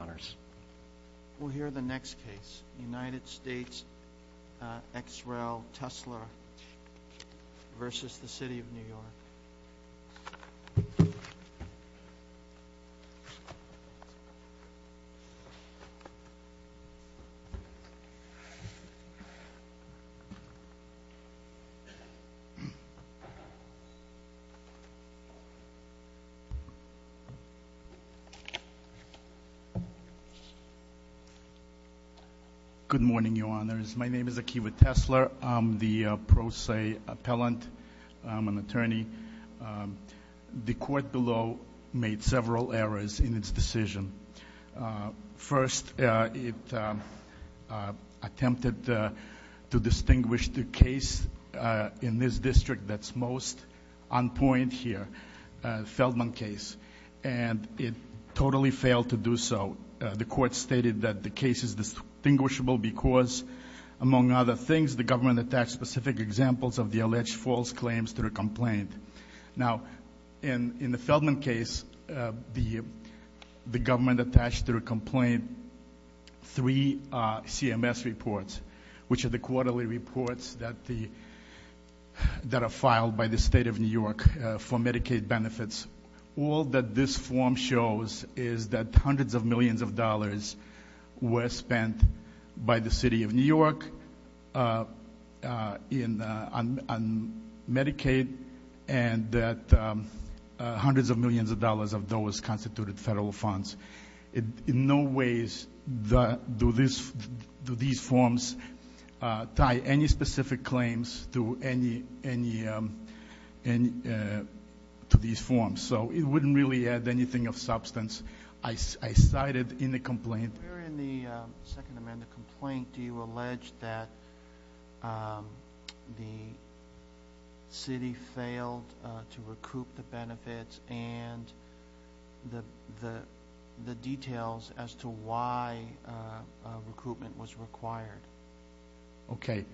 honors. We'll hear the next case, United States, uh, X rel Tesla versus the city of New York. Good morning, your honors. My name is Akiva Tesla. I'm the pro se appellant. I'm an attorney. The court below made several errors in its decision. First, it attempted to distinguish the case in this district that's most on point here, Feldman case, and it totally failed to do so. The court stated that the case is distinguishable because, among other things, the government attached specific examples of the alleged false claims to the complaint. Now, in the Feldman case, the government attached to the complaint three CMS reports, which are the quarterly reports that are filed by the state of New York for Medicaid benefits. All that this form shows is that hundreds of millions of dollars were spent by the city of New York on Medicaid and that hundreds of millions of dollars of those constituted federal funds. In no ways do these forms tie any specific claims to these forms, so it wouldn't really add anything of substance. I cited in the complaint... Where in the Second Amendment complaint do you allege that the city failed to recoup the benefits and the details as to why recoupment was required? Okay.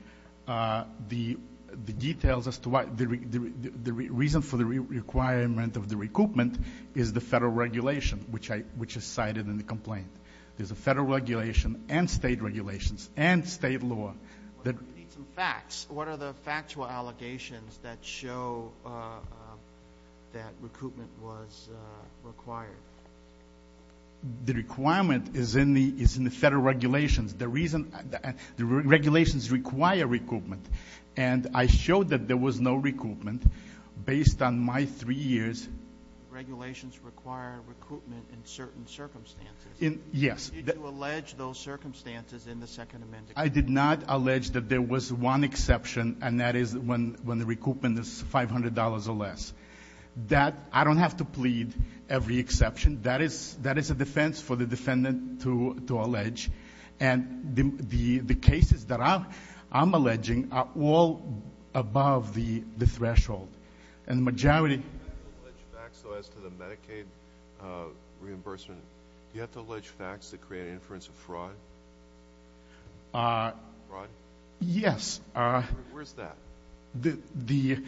The details as to why... The reason for the requirement of the recoupment is the federal regulation, which is cited in the complaint. There's a federal regulation and state regulations and state law that... We need some facts. What are the factual allegations that show that recoupment was required? The requirement is in the federal regulations. The reason... The regulations require recoupment, and I showed that there was no recoupment based on my three years... Regulations require recoupment in certain circumstances. Yes. Did you allege those circumstances in the Second Amendment? I did not allege that there was one exception, and that is when the recoupment is $500 or less. I don't have to plead every exception. That is a defense for the defendant to allege, and the cases that I'm alleging are all above the threshold, and the majority... Do you have to allege facts, though, as to the Medicaid reimbursement? Do you have to fraud? Yes. Where's that? The...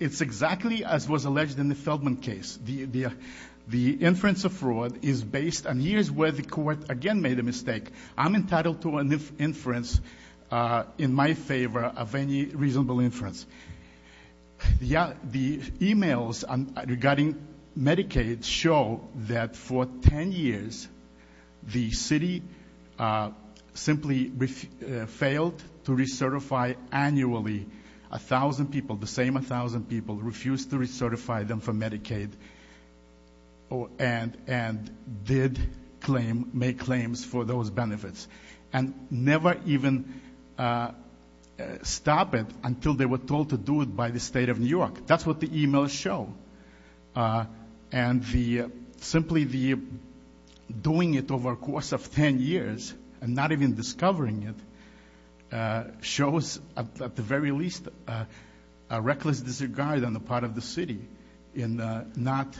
It's exactly as was alleged in the Feldman case. The inference of fraud is based... And here's where the court, again, made a mistake. I'm entitled to an inference in my favor of any reasonable inference. The emails regarding Medicaid show that for 10 years, the city simply failed to recertify annually 1,000 people, the same 1,000 people, refused to recertify them for Medicaid, and did claim, make claims for those benefits, and never even stop it until they were told to do it by the State of New York. That's what the doing it over a course of 10 years, and not even discovering it, shows, at the very least, a reckless disregard on the part of the city in not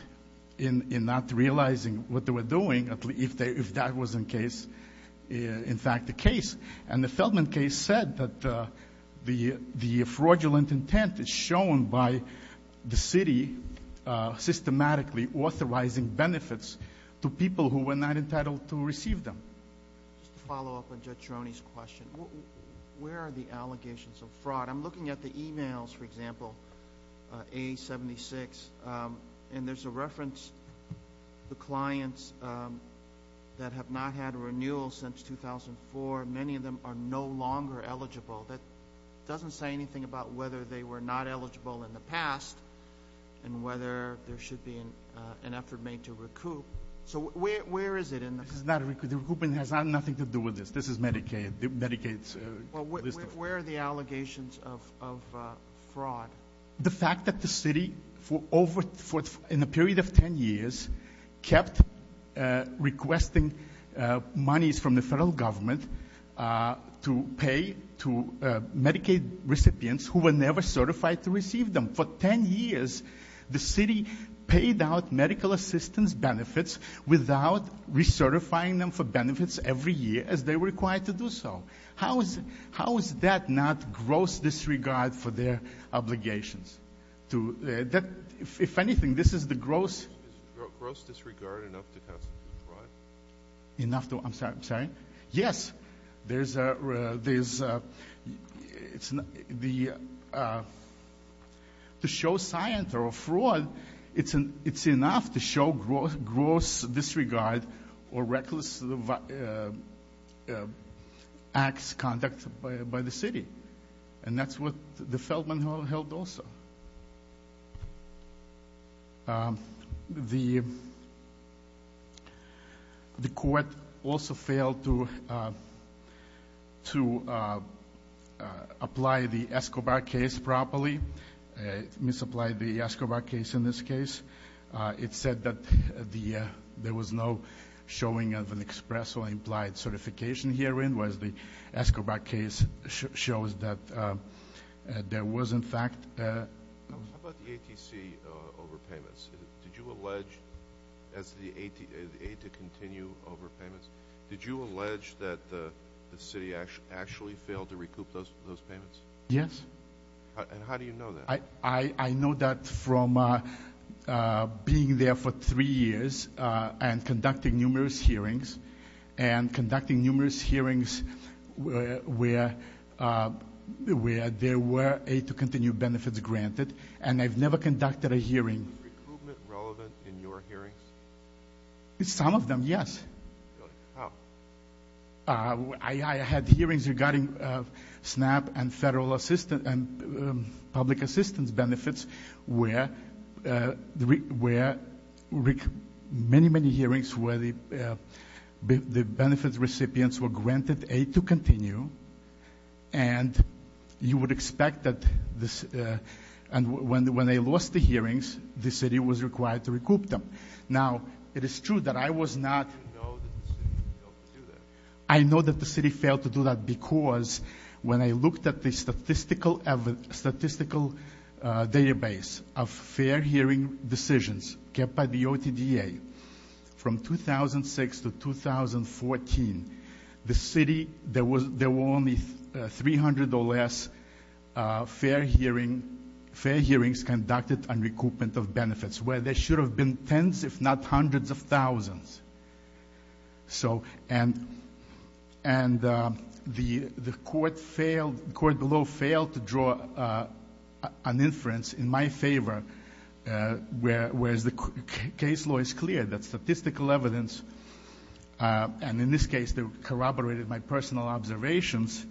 realizing what they were doing, if that was, in fact, the case. And the Feldman case said that the fraudulent intent is shown by the city systematically authorizing benefits to people who were not entitled to receive them. Just to follow up on Judge Ceroni's question, where are the allegations of fraud? I'm looking at the emails, for example, A76, and there's a reference, the clients that have not had a renewal since 2004, many of them are no longer eligible. That doesn't say anything about whether they were not eligible in the past, and whether there should be an effort made to recoup. So where is it in the- This is not a recoup. The recoupment has nothing to do with this. This is Medicaid, Medicaid's list of- Well, where are the allegations of fraud? The fact that the city, in a period of 10 years, kept requesting monies from the federal government to pay to Medicaid recipients who were never certified to receive them. For 10 years, the city paid out medical assistance benefits without recertifying them for benefits every year, as they were required to do so. How is that not gross disregard for their obligations? If anything, this is the gross- Is gross disregard enough to constitute fraud? Enough to- I'm sorry, I'm sorry. Yes, there's a- to show science or fraud, it's enough to show gross disregard or reckless acts, conduct by the city. And that's what the Feldman Law held also. The court also failed to apply the Escobar case properly, misapplied the Escobar case in this case. It said that there was no showing of an express or implied certification herein, whereas the Escobar case shows that there was, in fact- How about the ATC overpayments? Did you allege, as the aid to continue overpayments, did you allege that the city actually failed to recoup those payments? Yes. And how do you know that? I know that from being there for three years and conducting numerous hearings, and conducting numerous hearings where there were aid to continue benefits granted, and I've never conducted a hearing- Was recoupment relevant in your hearings? Some of them, yes. Really? How? I had hearings regarding SNAP and federal assistance and public assistance benefits where many, many hearings where the benefits recipients were granted aid to continue, and you would expect that when they lost the hearings, the city was required to recoup them. Now, it is true that I was not- You know that the city failed to do that. I know that the city failed to do that because when I looked at the statistical database of fair hearing decisions kept by the OTDA from 2006 to 2014, the city, there were only 300 or less fair hearings conducted on recoupment of benefits where there should have been tens if not hundreds of thousands. So, and the court below failed to draw an inference in my favor, whereas the case law is clear that statistical evidence, and in this case they corroborated my personal observations,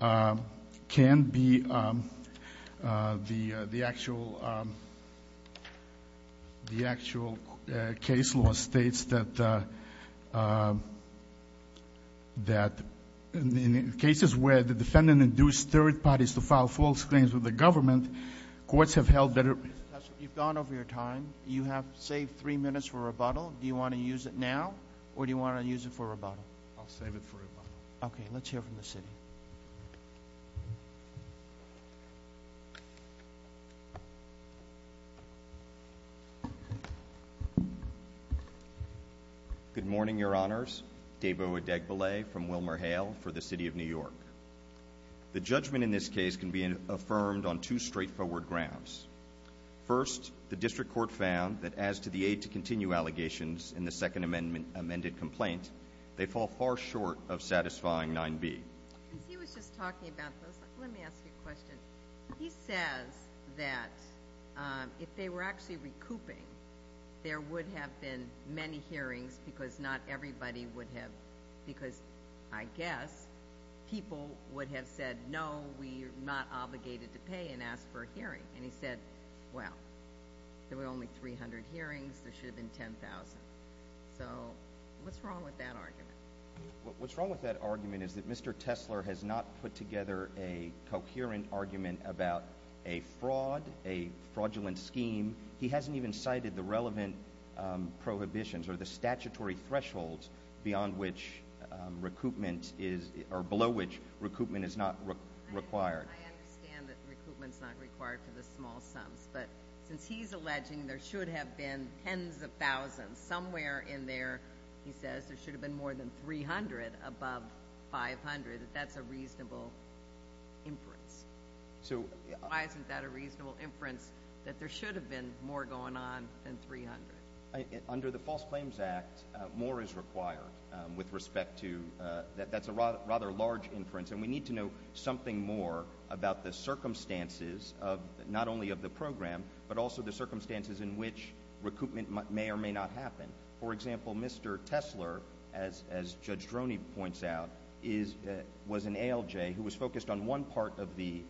can be the actual case law states that in cases where the defendant induced third parties to file false claims with the government, courts have held that- You've gone over your time. You have saved three minutes for rebuttal. Do you want to use it now, or do you want to use it for rebuttal? I'll save it for rebuttal. Okay, let's hear from the city. Good morning, Your Honors. David O. Adegbile from WilmerHale for the City of New York. The judgment in this case can be affirmed on two straightforward grounds. First, the district court found that as to the aid to continue allegations in the second amended complaint, they fall far short of satisfying 9B. He was just talking about this. Let me ask you a question. He says that if they were actually recouping, there would have been many hearings because not everybody would have, because I guess people would have said no, we are not obligated to pay and ask for a hearing. And he said, well, there were only 300 hearings. There should have been 10,000. So what's wrong with that argument? What's wrong with that argument is that Mr. Tesler has not put together a coherent argument about a fraud, a fraudulent scheme. He hasn't even cited the relevant prohibitions or the statutory thresholds beyond which recoupment is, or below which recoupment is not required. I understand that recoupment is not required for the small sums, but since he's alleging there should have been tens of thousands, somewhere in there, he says, there should have been more than 300 above 500, that that's a reasonable inference. Why isn't that a reasonable inference that there should have been more going on than 300? Under the False Claims Act, more is required with respect to, that's a rather large inference, and we need to know something more about the circumstances of, not only of the program, but also the circumstances in which recoupment may or may not happen. For example, Mr. Tesler, as Judge Droney points out, was an ALJ who was focused on one part of the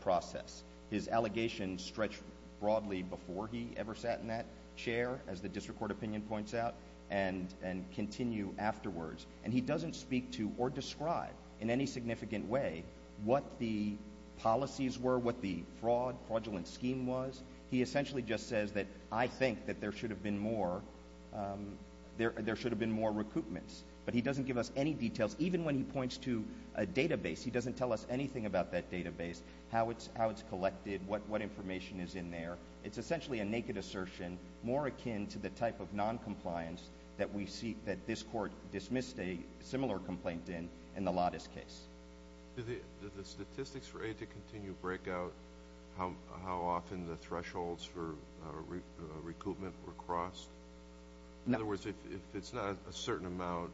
process. His allegations stretch broadly before he ever sat in that chair, as the District Court opinion points out, and continue afterwards. And he doesn't speak to or describe in any significant way what the policies were, what the fraud, fraudulent scheme was. He essentially just says that I think that there should have been more, there should have been more recoupments. But he doesn't give us any details, even when he points to a part of that database, how it's collected, what information is in there. It's essentially a naked assertion, more akin to the type of noncompliance that we see, that this Court dismissed a similar complaint in, in the Lattice case. Did the statistics for aid to continue break out how often the thresholds for recoupment were crossed? In other words, if it's not a certain amount,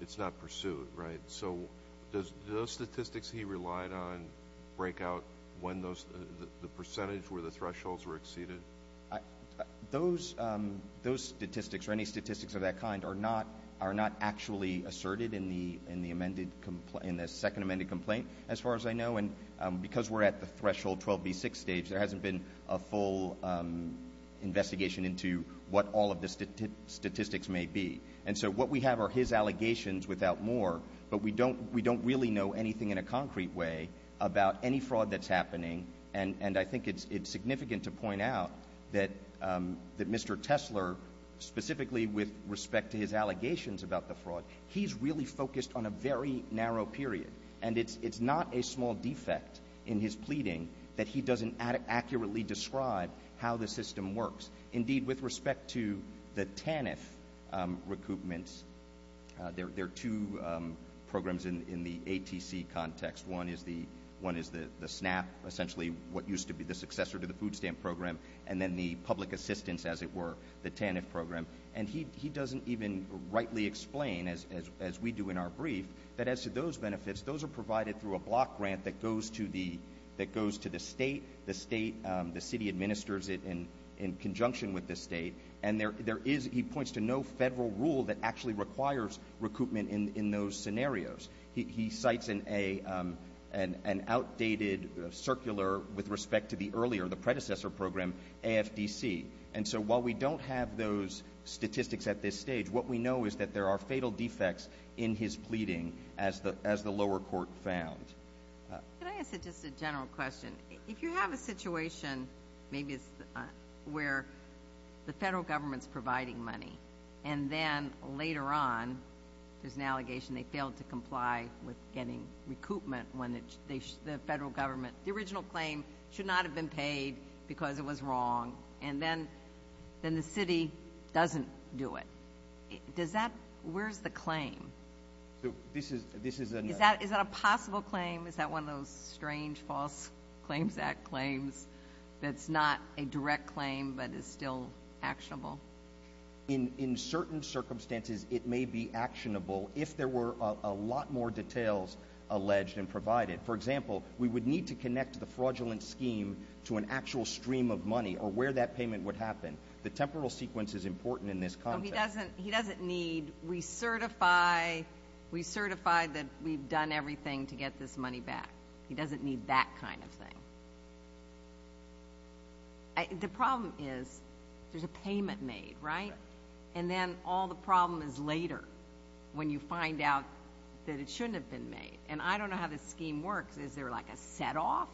it's not pursued, right? So, does those statistics he relied on break out when those, the percentage where the thresholds were exceeded? Those, those statistics, or any statistics of that kind, are not, are not actually asserted in the, in the amended, in the second amended complaint, as far as I know. And because we're at the threshold 12B6 stage, there hasn't been a full investigation into what all of the statistics may be. And so, what we have are his allegations without more, but we don't, we don't really know anything in a concrete way about any fraud that's happening. And, and I think it's, it's significant to point out that, that Mr. Tesler, specifically with respect to his allegations about the fraud, he's really focused on a very narrow period. And it's, it's not a small defect in his pleading that he doesn't accurately describe how the system works. Indeed, with respect to the TANF recoupments, there, there are two programs in, in the ATC context. One is the, one is the, the SNAP, essentially what used to be the successor to the food stamp program, and then the public assistance, as it were, the TANF program. And he, he doesn't even rightly explain, as, as, as we do in our brief, that as to those benefits, those are provided through a block grant that goes to the, that goes to the state. The state, the city administers it in, in conjunction with the state. And there, there is, he points to no federal rule that actually requires recoupment in, in those scenarios. He, he cites an, a, an, an outdated circular with respect to the earlier, the original claim, where there are fatal defects in his pleading, as the, as the lower court found. Uh... Can I ask just a general question? If you have a situation, maybe it's, uh, where the federal government's providing money and then, later on, there's an allegation they failed to comply with getting recoupment when the, they, the federal government, the original claim should not have been paid because it was wrong, and then, then the city doesn't do it. Does that, does that make sense to you? Where's the claim? So, this is, this is a... Is that, is that a possible claim? Is that one of those strange, false Claims Act claims that's not a direct claim, but is still actionable? In, in certain circumstances, it may be actionable, if there were, uh, a lot more details alleged and provided. For example, we would need to connect the fraudulent scheme to an actual stream of money, or where that payment would happen. The temporal sequence is important in this context. He doesn't, he doesn't need, we certify, we certify that we've done everything to get this money back. He doesn't need that kind of thing. I, the problem is, there's a payment made, right? And then, all the problem is later, when you find out that it shouldn't have been made. And I don't know how this scheme works. Is there, like, a set-off?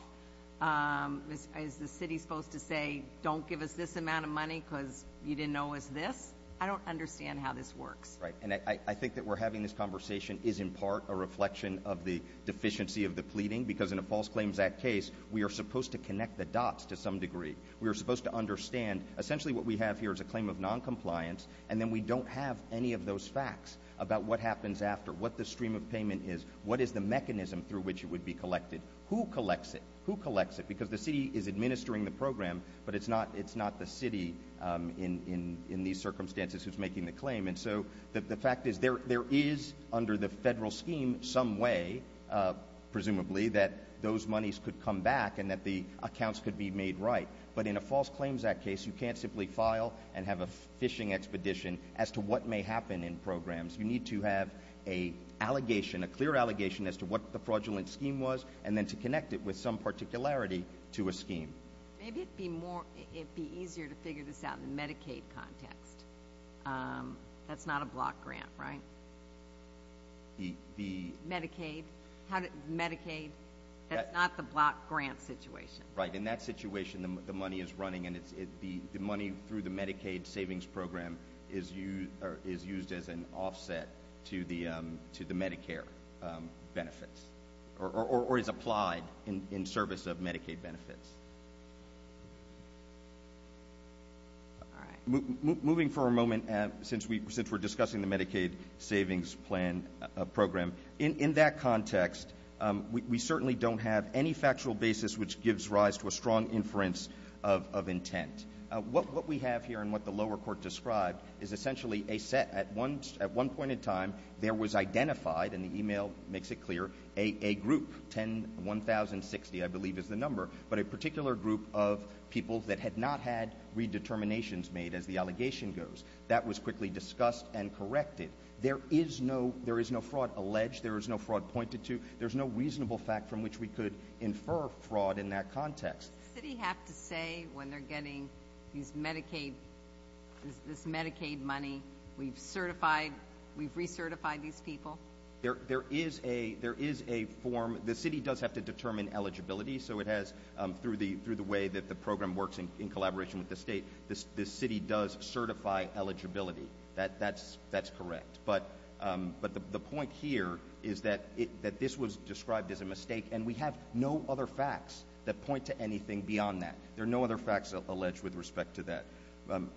Um, is, is the city supposed to say, don't give us this amount of money, because you didn't know it was this? I don't understand how this works. Right, and I, I, I think that we're having this conversation is, in part, a reflection of the deficiency of the pleading, because in a False Claims Act case, we are supposed to connect the dots, to some degree. We are supposed to understand, essentially, what we have here is a claim of non-compliance, and then we don't have any of those facts about what happens after, what the stream of payment is, what is the mechanism through which it would be collected, who collects it? Who collects it? Because the city is administering the program, but it's not, it's not the city, um, in, in, in these circumstances who's making the claim, and so, the, the fact is, there, there is, under the federal scheme, some way, uh, presumably, that those monies could come back, and that the accounts could be made right. But in a False Claims Act case, you can't simply file and have a phishing expedition as to what may happen in programs. You need to have a allegation, a clear allegation, as to what the fraudulent scheme was, and then to connect it with some particularity to a scheme. Maybe it'd be more, it'd be easier to figure this out in the Medicaid context. Um, that's not a block grant, right? The, the... Medicaid? How did, Medicaid? That's not the block grant situation. Right. In that situation, the, the money is running, and it's, the, the money through the Medicaid savings program is used, or is used as an offset to the, um, to the Medicare, um, as applied in, in service of Medicaid benefits. All right. Moving for a moment, um, since we, since we're discussing the Medicaid savings plan, uh, program, in, in that context, um, we, we certainly don't have any factual basis which gives rise to a strong inference of, of intent. Uh, what, what we have here, and what the lower court described, is essentially a set at one, at one point in time, there was identified, and the email makes it clear, a, a group, 10, 1060, I believe is the number, but a particular group of people that had not had redeterminations made, as the allegation goes. That was quickly discussed and corrected. There is no, there is no fraud alleged, there is no fraud pointed to, there's no reasonable fact from which we could infer fraud in that context. Does the city have to say, when they're getting these Medicaid, this, this Medicaid money, we've certified, we've recertified these people? There, there is a, there is a form, the city does have to determine eligibility, so it has, um, through the, through the way that the program works in, in collaboration with the state, this, this city does certify eligibility. That, that's, that's correct. But, um, but the, the point here is that it, that this was described as a mistake, and we have no other facts that point to anything beyond that. There are no other facts alleged with respect to that. Um,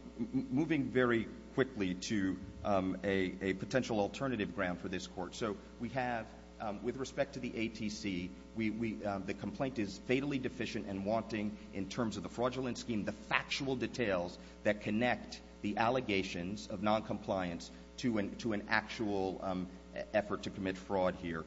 moving very quickly to, um, a, a potential alternative ground for this court. So, we have, um, with respect to the ATC, we, we, um, the complaint is fatally deficient and wanting, in terms of the fraudulent scheme, the factual details that connect the allegations of noncompliance to an, to an actual, um, effort to commit fraud here.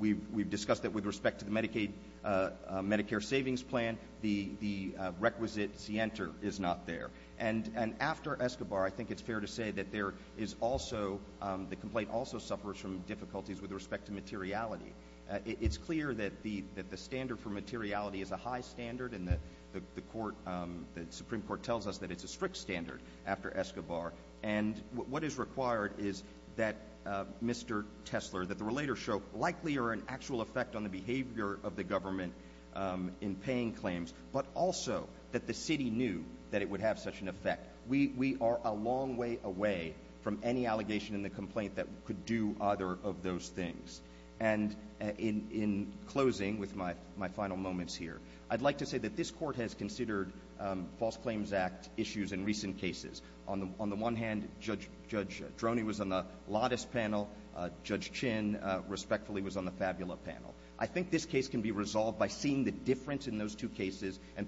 We, we've discussed that with respect to the Medicaid, uh, Medicare savings plan, the, the requisite scienter is not there. And, and after Escobar, I think it's fair to say that there is also, um, the complaint also suffers from difficulties with respect to materiality. Uh, it, it's clear that the, that the standard for materiality is a high standard, and the, the, the court, um, the Supreme Court tells us that it's a strict standard after Escobar. And what, what is required is that, uh, Mr. Tesler, that the relators show likely or an actual effect on the behavior of the government, um, in paying claims, but also that the city knew that it would have such an effect. We, we are a long way away from any allegation in the complaint that could do either of those things. And in, in closing with my, my final moments here, I'd like to say that this court has considered, um, false claims act issues in recent cases. On the, on the one hand, Judge, Judge Droney was on the Lattice panel, uh, Judge Chin, uh, respectfully was on the Fabula panel. I think this case can be resolved by seeing the difference in those two cases and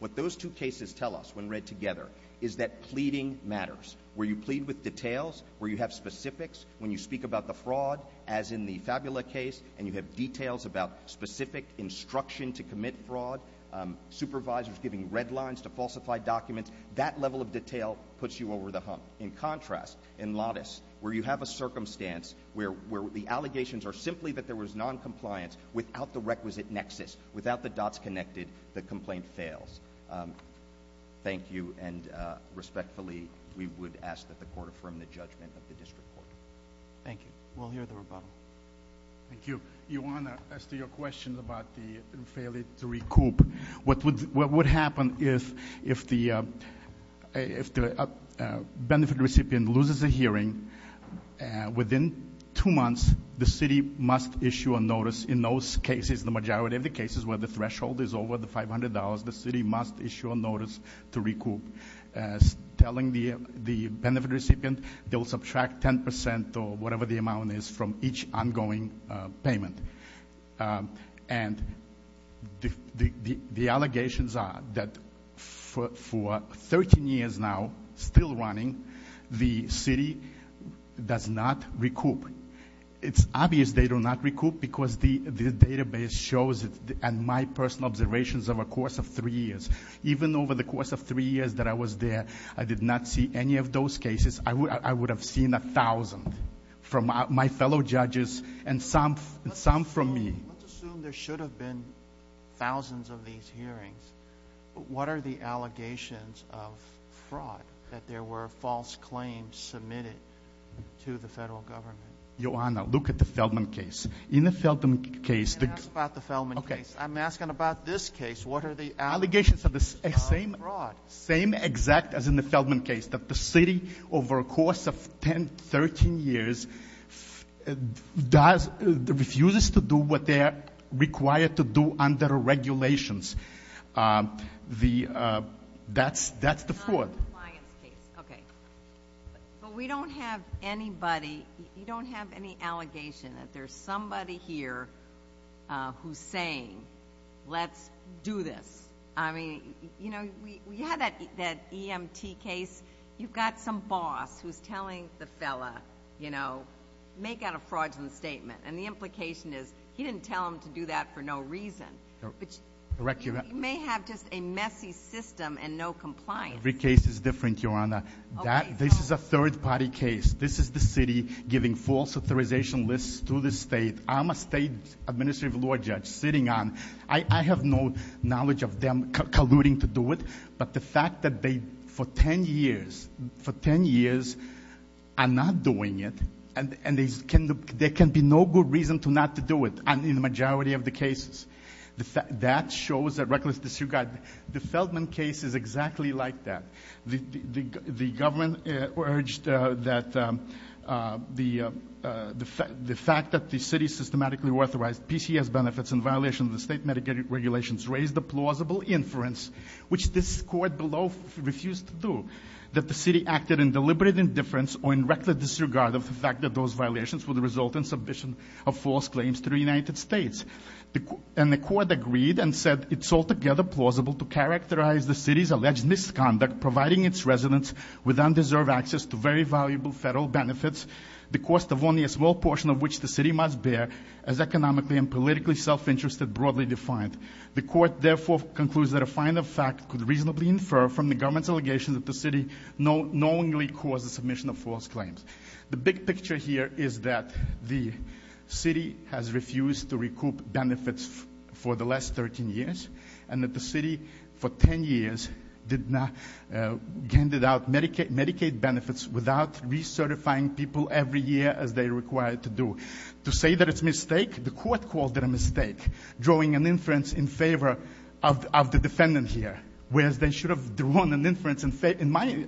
what those two cases tell us when read together is that pleading matters. Where you plead with details, where you have specifics, when you speak about the fraud as in the Fabula case, and you have details about specific instruction to commit fraud, um, supervisors giving red lines to falsify documents, that level of detail puts you over the hump. In contrast, in Lattice, where you have a circumstance where, where the allegations are simply that there was noncompliance without the requisite nexus, without the dots um, thank you, and uh, respectfully, we would ask that the court affirm the judgment of the District Court. Thank you. We'll hear the rebuttal. Thank you. Ioana, as to your question about the failure to recoup, what would, what would happen if, if the, uh, if the uh, benefit recipient loses a hearing, uh, within two months, the city must issue a notice in those cases, the majority of the cases where the threshold is over the $500, the city must issue a notice to recoup, uh, telling the, the benefit recipient they'll subtract 10% or whatever the amount is from each ongoing, uh, payment. Um, and the, the, the allegations are that for 13 years now, still running, the city does not recoup. It's obvious they do not recoup because the, the database shows, and my personal observations over the course of three years, even over the course of three years that I was there, I did not see any of those cases. I would, I would have seen a thousand from my fellow judges and some, some from me. Let's assume there should have been thousands of these hearings. What are the allegations of fraud, that there were false claims submitted to the federal government? Ioana, look at the Feldman case. In the Feldman case... I'm asking about this case. What are the allegations of fraud? Allegations of the same, same exact as in the Feldman case, that the city over a course of 10, 13 years does, refuses to do what they're required to do under regulations. Um, the, uh, that's, that's the fraud. Okay. But we don't have anybody, you don't have any allegation that there's somebody here, uh, who's saying, let's do this. I mean, you know, we, we had that, that EMT case. You've got some boss who's telling the fella, you know, make out a fraudulent statement. And the implication is, he didn't tell him to do that for no reason. But you may have just a messy system and no compliance. Every case is different, Ioana. That, this is a third party case. This is the city giving false authorization lists to the state. I'm a state administrative law judge sitting on, I, I have no knowledge of them colluding to do it. But the fact that they, for 10 years, for 10 years are not doing it and, and they can, there can be no good reason to not to do it, in the majority of the cases. That shows that reckless disuse, the Feldman case is exactly like that. The, the, the government urged that the, the fact that the city systematically authorized PCS benefits in violation of the state Medicaid regulations raised a plausible inference, which this court below refused to do, that the city acted in deliberate indifference or in reckless disregard of the fact that those violations would result in submission of false claims to the United States. And the court agreed and said it's altogether plausible to characterize the city's alleged misconduct, providing its residents with undeserved access to very valuable federal benefits, the cost of only a small portion of which the city must bear, as economically and politically self-interested broadly defined. The court therefore concludes that a finer fact could reasonably infer from the government's allegations that the city knowingly caused the submission of false claims. The big picture here is that the city has refused to recoup benefits for the last 13 years, and that the city for 10 years did not, handed out Medicaid benefits without recertifying people every year as they are required to do. To say that it's a mistake, the court called it a mistake, drawing an inference in favor of the defendant here, whereas they should have drawn an inference in my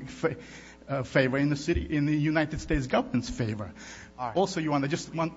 favor, in the city, in the United States government's favor. Also, you want to just want...